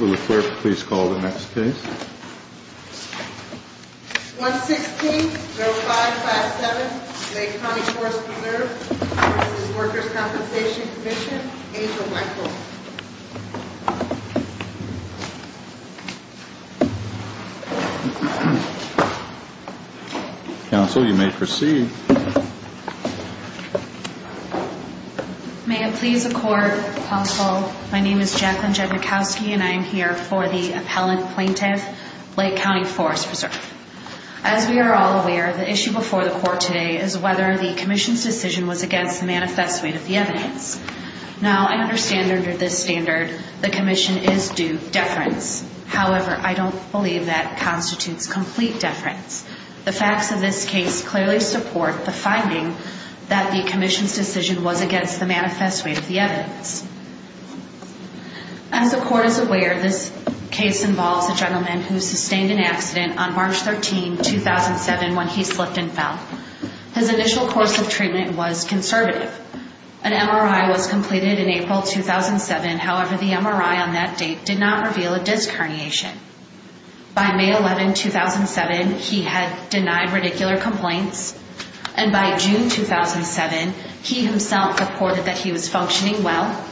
Will the clerk please call the next case? 116-05-57, Lake County Forest Preserve v. Workers' Compensation Comm'n, Angel Michael. Counsel, you may proceed. May it please the Court, Counsel, my name is Jacqueline Jednikowski, and I am here for the appellant plaintiff, Lake County Forest Preserve. As we are all aware, the issue before the Court today is whether the Commission's decision was against the manifesto of the evidence. Now, I understand under this standard, the Commission is due deference. However, I don't believe that constitutes complete deference. The facts of this case clearly support the finding that the Commission's decision was against the manifesto of the evidence. As the Court is aware, this case involves a gentleman who sustained an accident on March 13, 2007, when he slipped and fell. His initial course of treatment was conservative. An MRI was completed in April 2007. However, the MRI on that date did not reveal a disc herniation. By May 11, 2007, he had denied radicular complaints. And by June 2007, he himself reported that he was functioning well,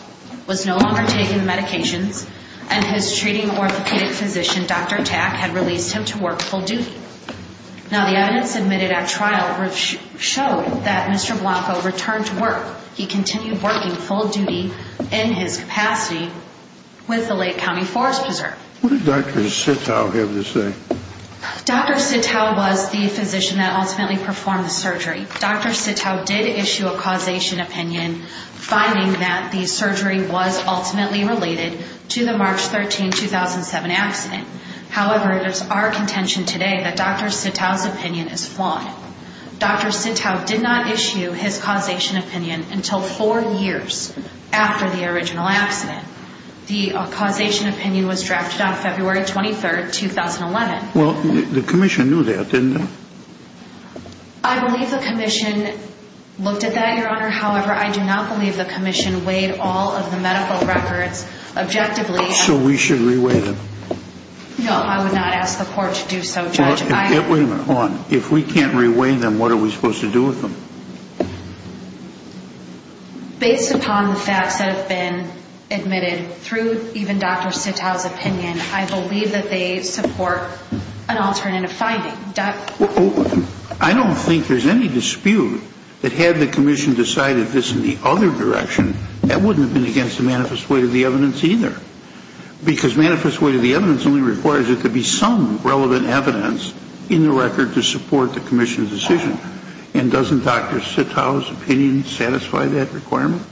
was no longer taking the medications, and his treating orthopedic physician, Dr. Tack, had released him to work full duty. Now, the evidence admitted at trial showed that Mr. Blanco returned to work. He continued working full duty in his capacity with the Lake County Forest Preserve. What did Dr. Sittow have to say? Dr. Sittow was the physician that ultimately performed the surgery. Dr. Sittow did issue a causation opinion, finding that the surgery was ultimately related to the March 13, 2007 accident. However, it is our contention today that Dr. Sittow's opinion is flawed. Dr. Sittow did not issue his causation opinion until four years after the original accident. The causation opinion was drafted on February 23, 2011. Well, the commission knew that, didn't they? I believe the commission looked at that, Your Honor. However, I do not believe the commission weighed all of the medical records objectively. So we should re-weigh them? No, I would not ask the court to do so, Judge. Wait a minute, hold on. If we can't re-weigh them, what are we supposed to do with them? Based upon the facts that have been admitted, through even Dr. Sittow's opinion, I believe that they support an alternative finding. I don't think there's any dispute that had the commission decided this in the other direction, that wouldn't have been against the manifest weight of the evidence either. Because manifest weight of the evidence only requires that there be some relevant evidence in the record to support the commission's decision. And doesn't Dr. Sittow's opinion satisfy that requirement?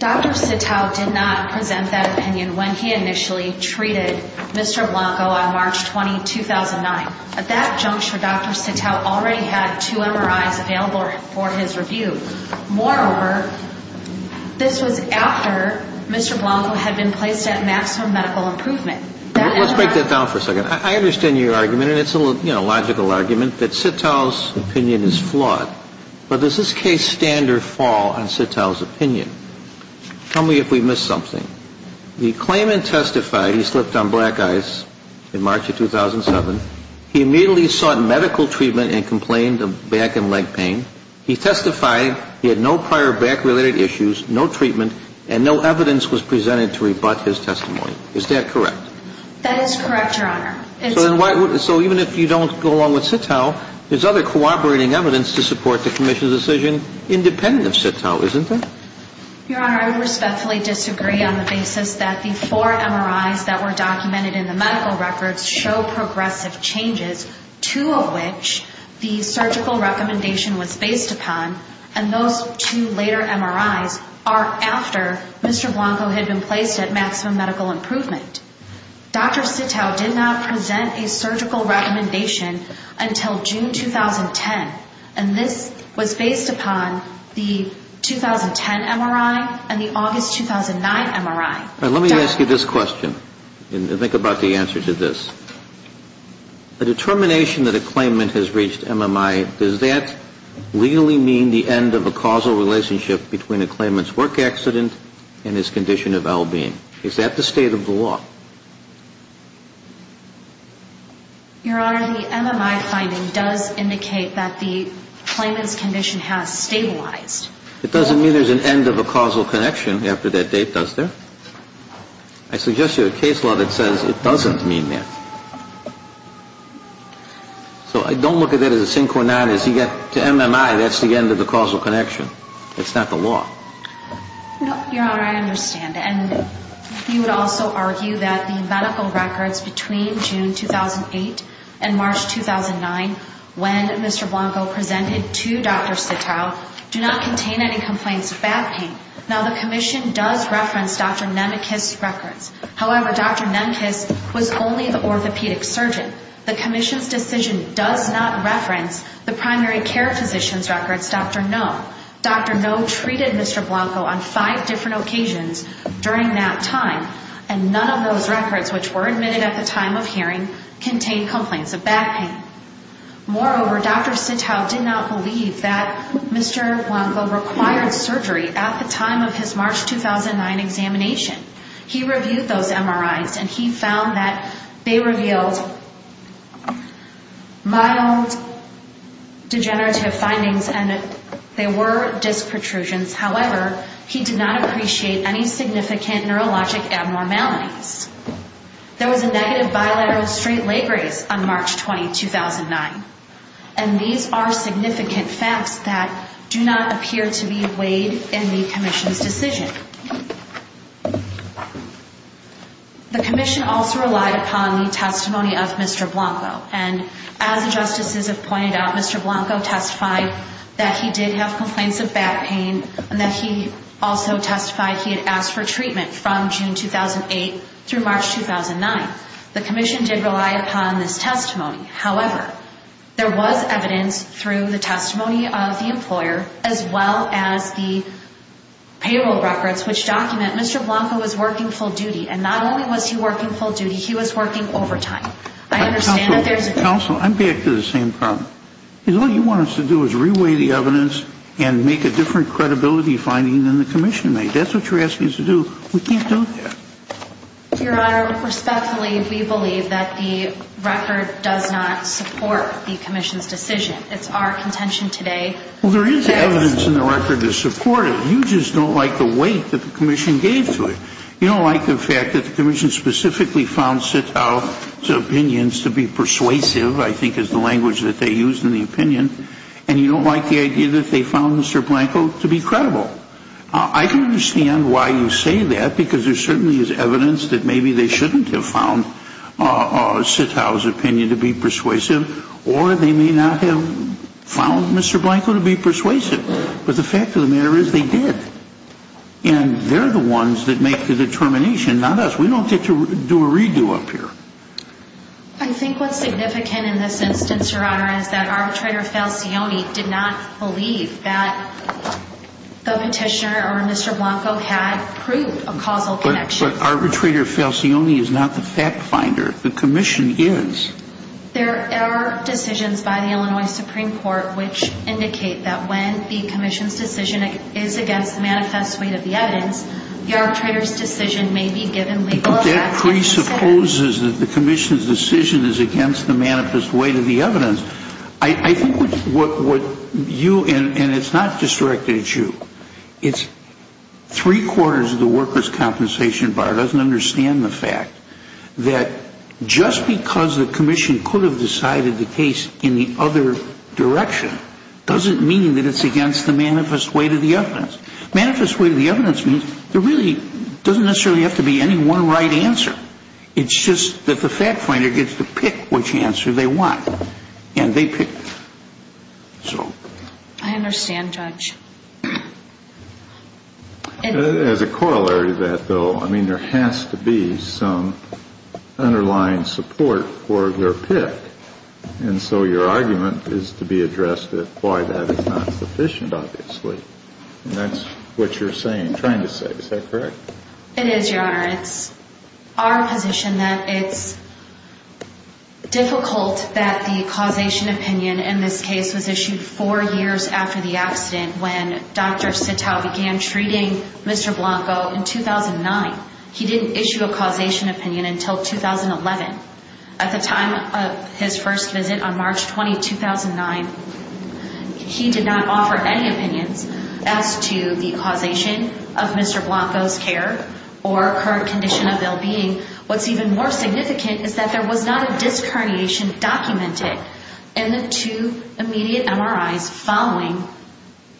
Dr. Sittow did not present that opinion when he initially treated Mr. Blanco on March 20, 2009. At that juncture, Dr. Sittow already had two MRIs available for his review. Moreover, this was after Mr. Blanco had been placed at maximum medical improvement. Let's break that down for a second. I understand your argument, and it's a logical argument, that Sittow's opinion is flawed. But does this case stand or fall on Sittow's opinion? Tell me if we missed something. The claimant testified he slipped on black ice in March of 2007. He immediately sought medical treatment and complained of back and leg pain. He testified he had no prior back-related issues, no treatment, and no evidence was presented to rebut his testimony. Is that correct? That is correct, Your Honor. So even if you don't go along with Sittow, there's other cooperating evidence to support the commission's decision independent of Sittow, isn't there? Your Honor, I would respectfully disagree on the basis that the four MRIs that were documented in the medical records show progressive changes, two of which the surgical recommendation was based upon, and those two later MRIs are after Mr. Blanco had been placed at maximum medical improvement. Dr. Sittow did not present a surgical recommendation until June 2010, and this was based upon the 2010 MRI and the August 2009 MRI. Let me ask you this question and think about the answer to this. The determination that a claimant has reached MMI, does that legally mean the end of a causal relationship between a claimant's work accident and his condition of LB? Is that the state of the law? Your Honor, the MMI finding does indicate that the claimant's condition has stabilized. It doesn't mean there's an end of a causal connection after that date, does there? I suggest you a case law that says it doesn't mean that. So I don't look at that as a synchronized, as you get to MMI, that's the end of the causal connection. It's not the law. No, Your Honor, I understand. You would also argue that the medical records between June 2008 and March 2009, when Mr. Blanco presented to Dr. Sittow, do not contain any complaints of back pain. Now, the Commission does reference Dr. Nemekis' records. However, Dr. Nemekis was only the orthopedic surgeon. The Commission's decision does not reference the primary care physician's records, Dr. Noem. Dr. Noem treated Mr. Blanco on five different occasions during that time, and none of those records, which were admitted at the time of hearing, contained complaints of back pain. Moreover, Dr. Sittow did not believe that Mr. Blanco required surgery at the time of his March 2009 examination. He reviewed those MRIs, and he found that they revealed mild degenerative findings, and they were disc protrusions. However, he did not appreciate any significant neurologic abnormalities. There was a negative bilateral straight leg raise on March 20, 2009, and these are significant facts that do not appear to be weighed in the Commission's decision. The Commission also relied upon the testimony of Mr. Blanco, and as the Justices have pointed out, Mr. Blanco testified that he did have complaints of back pain, and that he also testified he had asked for treatment from June 2008 through March 2009. The Commission did rely upon this testimony. However, there was evidence through the testimony of the employer, as well as the payroll records, which document Mr. Blanco was working full duty, and not only was he working full duty, he was working overtime. I understand that there's... Counsel, I'm back to the same problem. Because all you want us to do is reweigh the evidence and make a different credibility finding than the Commission made. That's what you're asking us to do. We can't do that. Your Honor, respectfully, we believe that the record does not support the Commission's decision. It's our contention today. Well, there is evidence in the record to support it. You just don't like the weight that the Commission gave to it. You don't like the fact that the Commission specifically found Sitow's opinions to be persuasive, I think is the language that they used in the opinion. And you don't like the idea that they found Mr. Blanco to be credible. I can understand why you say that, because there certainly is evidence that maybe they shouldn't have found Sitow's opinion to be persuasive, or they may not have found Mr. Blanco to be persuasive. But the fact of the matter is they did. And they're the ones that make the determination, not us. We don't get to do a redo up here. I think what's significant in this instance, Your Honor, is that Arbitrator Falcioni did not believe that the petitioner or Mr. Blanco had proved a causal connection. But Arbitrator Falcioni is not the fact finder. The Commission is. There are decisions by the Illinois Supreme Court which indicate that when the Commission's decision is against the manifest weight of the evidence, the arbitrator's decision may be given legal effect. That presupposes that the Commission's decision is against the manifest weight of the evidence. I think what you, and it's not just directed at you, it's three quarters of the workers' compensation bar doesn't understand the fact that just because the Commission could have decided the case in the other direction doesn't mean that it's against the manifest weight of the evidence. Manifest weight of the evidence means there really doesn't necessarily have to be any one right answer. It's just that the fact finder gets to pick which answer they want. And they pick. So. I understand, Judge. As a corollary to that, though, I mean, there has to be some underlying support for their pick. And so your argument is to be addressed at why that is not sufficient, obviously. And that's what you're saying, trying to say. Is that correct? It is, Your Honor. It's our position that it's difficult that the causation opinion in this case was issued four years after the accident when Dr. Sital began treating Mr. Blanco in 2009. He didn't issue a causation opinion until 2011. At the time of his first visit on March 20, 2009, he did not offer any opinions as to the causation of Mr. Blanco's care or current condition of well-being. What's even more significant is that there was not a disc herniation documented in the two immediate MRIs following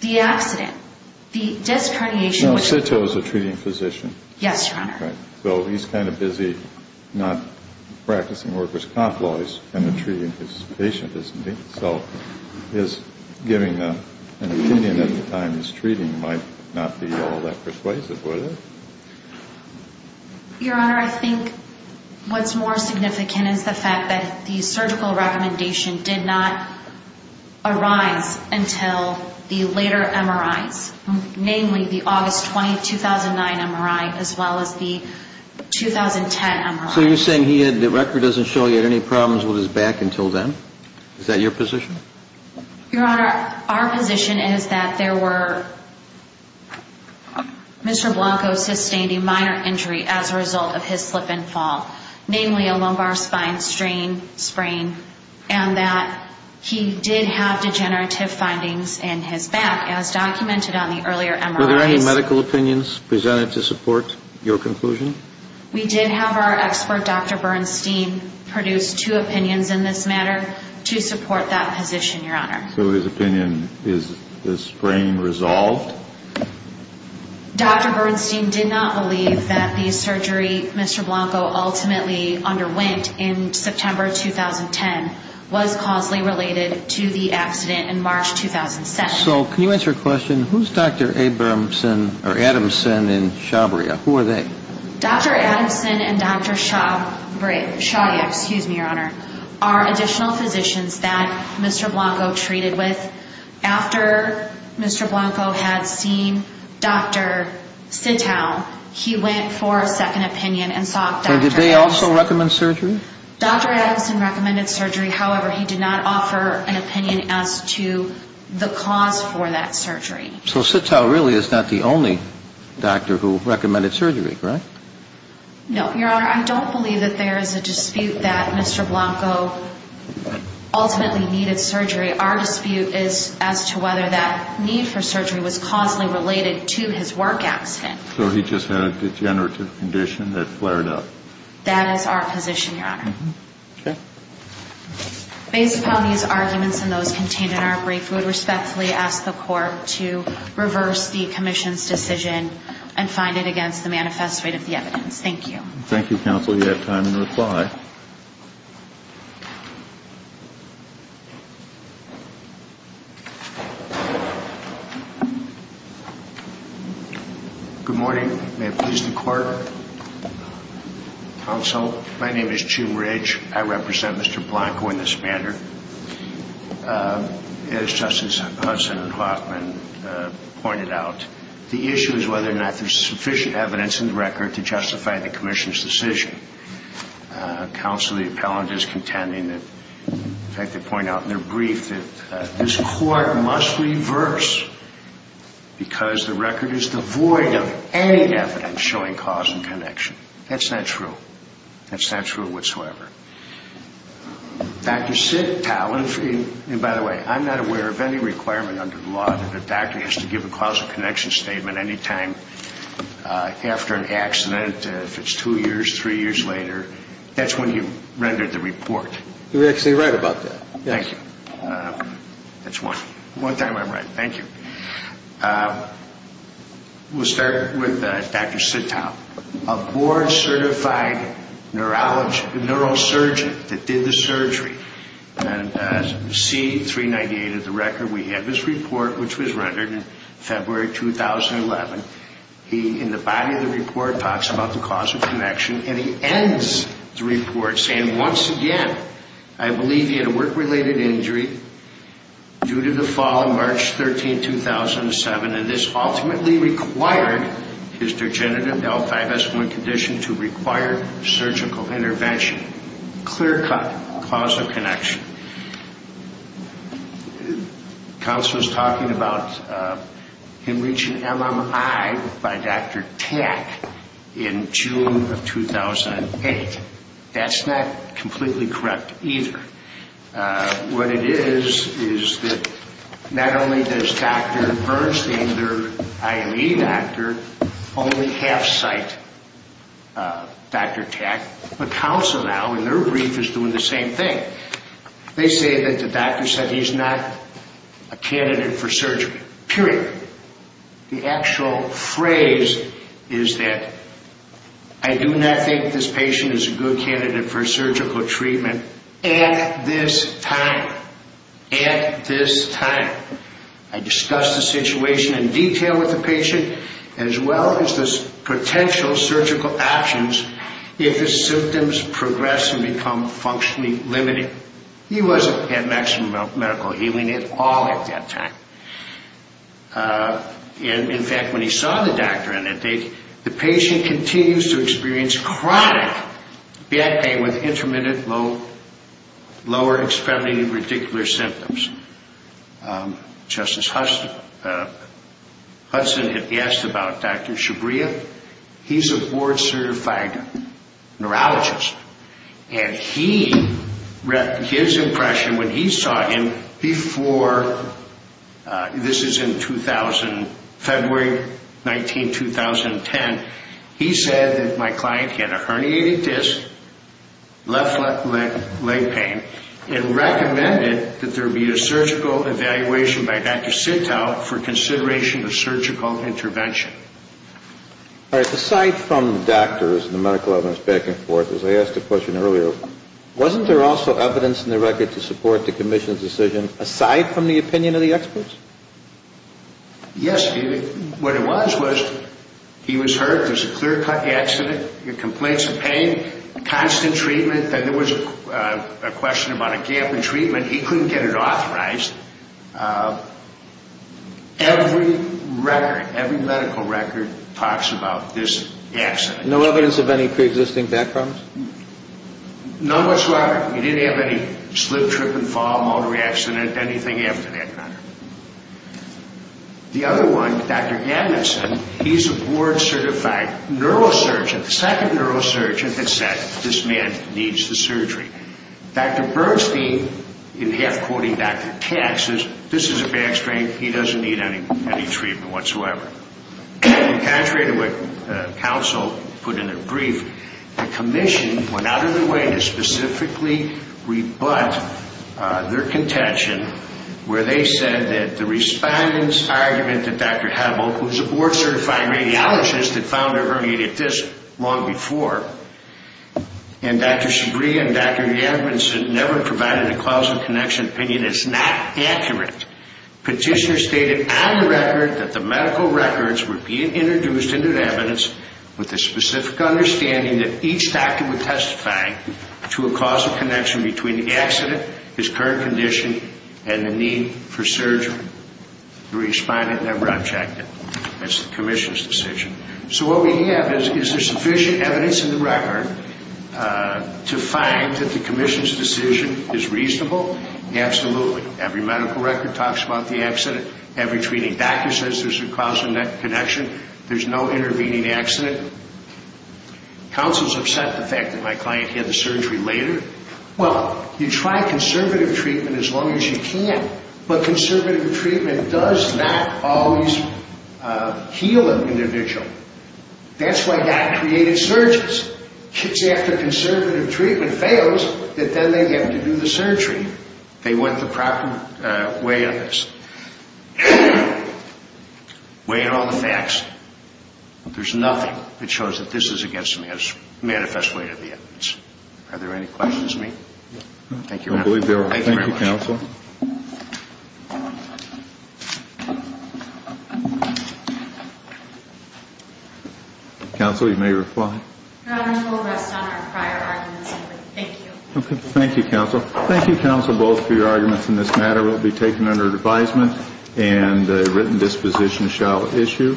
the accident. The disc herniation. Now, Sital is a treating physician. Yes, Your Honor. Right. So he's kind of busy not practicing workers' comp laws and then treating his patient, isn't he? So his giving an opinion at the time of his treating might not be all that persuasive, would it? Your Honor, I think what's more significant is the fact that the surgical recommendation did not arise until the later MRIs, namely the August 20, 2009 MRI, as well as the 2010 MRI. So you're saying he had, the record doesn't show he had any problems with his back until then? Is that your position? Your Honor, our position is that there were, Mr. Blanco sustained a minor injury as a result of his slip and fall, namely a lumbar spine sprain and that he did have degenerative findings in his back as documented on the earlier MRIs. Were there any medical opinions presented to support your conclusion? We did have our expert, Dr. Bernstein, produce two opinions in this matter. To support that position, Your Honor. So his opinion, is the sprain resolved? Dr. Bernstein did not believe that the surgery Mr. Blanco ultimately underwent in September 2010 was causally related to the accident in March 2007. So can you answer a question? Who's Dr. Abramson or Adamson and Shabria? Who are they? Dr. Adamson and Dr. Shabria, Shabria, excuse me, Your Honor, are additional physicians that Mr. Blanco treated with. After Mr. Blanco had seen Dr. Sitow, he went for a second opinion and sought Dr. Did they also recommend surgery? Dr. Adamson recommended surgery. However, he did not offer an opinion as to the cause for that surgery. So Sitow really is not the only doctor who recommended surgery, correct? No, Your Honor. I don't believe that there is a dispute that Mr. Blanco ultimately needed surgery. Our dispute is as to whether that need for surgery was causally related to his work accident. So he just had a degenerative condition that flared up? That is our position, Your Honor. Based upon these arguments and those contained in our brief, we respectfully ask the court to reverse the commission's decision and find it against the manifest rate of the evidence. Thank you. Thank you, counsel. You have time to reply. Good morning. May it please the court, counsel. My name is Jim Ridge. I represent Mr. Blanco in this matter. As Justice Hudson and Hoffman pointed out, the issue is whether or not there is sufficient evidence in the record to justify the commission's decision. Counsel, the appellant, is contending that, in fact, they point out in their brief that this court must reverse because the record is devoid of any evidence showing cause and connection. That's not true. That's not true whatsoever. Dr. Sittow, and by the way, I'm not aware of any requirement under the law that a doctor has to give a cause and connection statement any time after an accident, if it's two years, three years later. That's when you rendered the report. You're actually right about that. Thank you. That's one time I'm right. Thank you. We'll start with Dr. Sittow. A board-certified neurosurgeon that did the surgery and has received 398 of the record. We have his report, which was rendered in February 2011. He, in the body of the report, talks about the cause of connection, and he ends the report saying, once again, I believe he had a work-related injury due to the fall of March 13, 2007, and this ultimately required his degenerative L5S1 condition to require surgical intervention. Clear-cut cause of connection. Counsel was talking about him reaching MMI by Dr. Tack in June of 2008. That's not completely correct either. What it is, is that not only does Dr. Bernstein, their IME doctor, only half-cite Dr. Tack, but counsel now, in their brief, is doing the same thing. They say that the doctor said he's not a candidate for surgery, period. The actual phrase is that I do not think this patient is a good candidate for surgical treatment at this time. At this time. I discussed the situation in detail with the patient, as well as the potential surgical options if his symptoms progress and become functionally limited. He wasn't at maximum medical healing at all at that time. In fact, when he saw the doctor on that date, the patient continues to experience chronic back pain with intermittent lower extremity radicular symptoms. Justice Hudson had asked about Dr. Shabria. He's a board-certified neurologist, and his impression when he saw him before, this is in 2000, February 19, 2010, he said that my client had a herniated disc, left leg pain, and recommended that there be a surgical evaluation by Dr. Sintow for consideration of surgical intervention. All right. Aside from doctors and the medical evidence back and forth, as I asked the question earlier, wasn't there also evidence in the record to support the commission's decision, aside from the opinion of the experts? Yes, David. What it was, was he was hurt. There's a clear-cut accident, complaints of pain, constant treatment. Then there was a question about a gap in treatment. He couldn't get it authorized. Every record, every medical record talks about this accident. No evidence of any pre-existing back problems? Not much, Robert. You didn't have any slip, trip, and fall, motor accident, anything after that? The other one, Dr. Gammonson, he's a board-certified neurosurgeon, the second neurosurgeon that said this man needs the surgery. Dr. Bernstein, in half-quoting Dr. Katz, says this is a back strain. He doesn't need any treatment whatsoever. Contrary to what counsel put in their brief, the commission went out of their way to specifically rebut their contention, where they said that the respondent's argument that Dr. Hebbel, who's a board-certified radiologist that found her herniated disc long before, and Dr. Shabrie and Dr. Gammonson never provided a clause of connection opinion is not accurate. Petitioner stated on the record that the medical records were being introduced into the evidence with the specific understanding that each doctor would testify to a causal connection between the accident, his current condition, and the need for surgery. The respondent never objected. That's the commission's decision. So what we have is, is there sufficient evidence in the record to find that the commission's decision is reasonable? Absolutely. Every medical record talks about the accident. Every treating doctor says there's a causal connection. There's no intervening accident. Counsel's upset the fact that my client had the surgery later. Well, you try conservative treatment as long as you can, but conservative treatment does not always heal an individual. That's why God created surges. It's after conservative treatment fails that then they have to do the surgery. They went the proper way on this. So, weighing all the facts, there's nothing that shows that this is against the manifest weight of the evidence. Are there any questions, ma'am? Thank you. I believe there are. Thank you, counsel. Counsel, you may reply. Your honor, we'll rest on our prior arguments. Thank you. Okay. Thank you, counsel. Thank you, counsel, both for your arguments in this matter. It will be taken under advisement and a written disposition shall issue.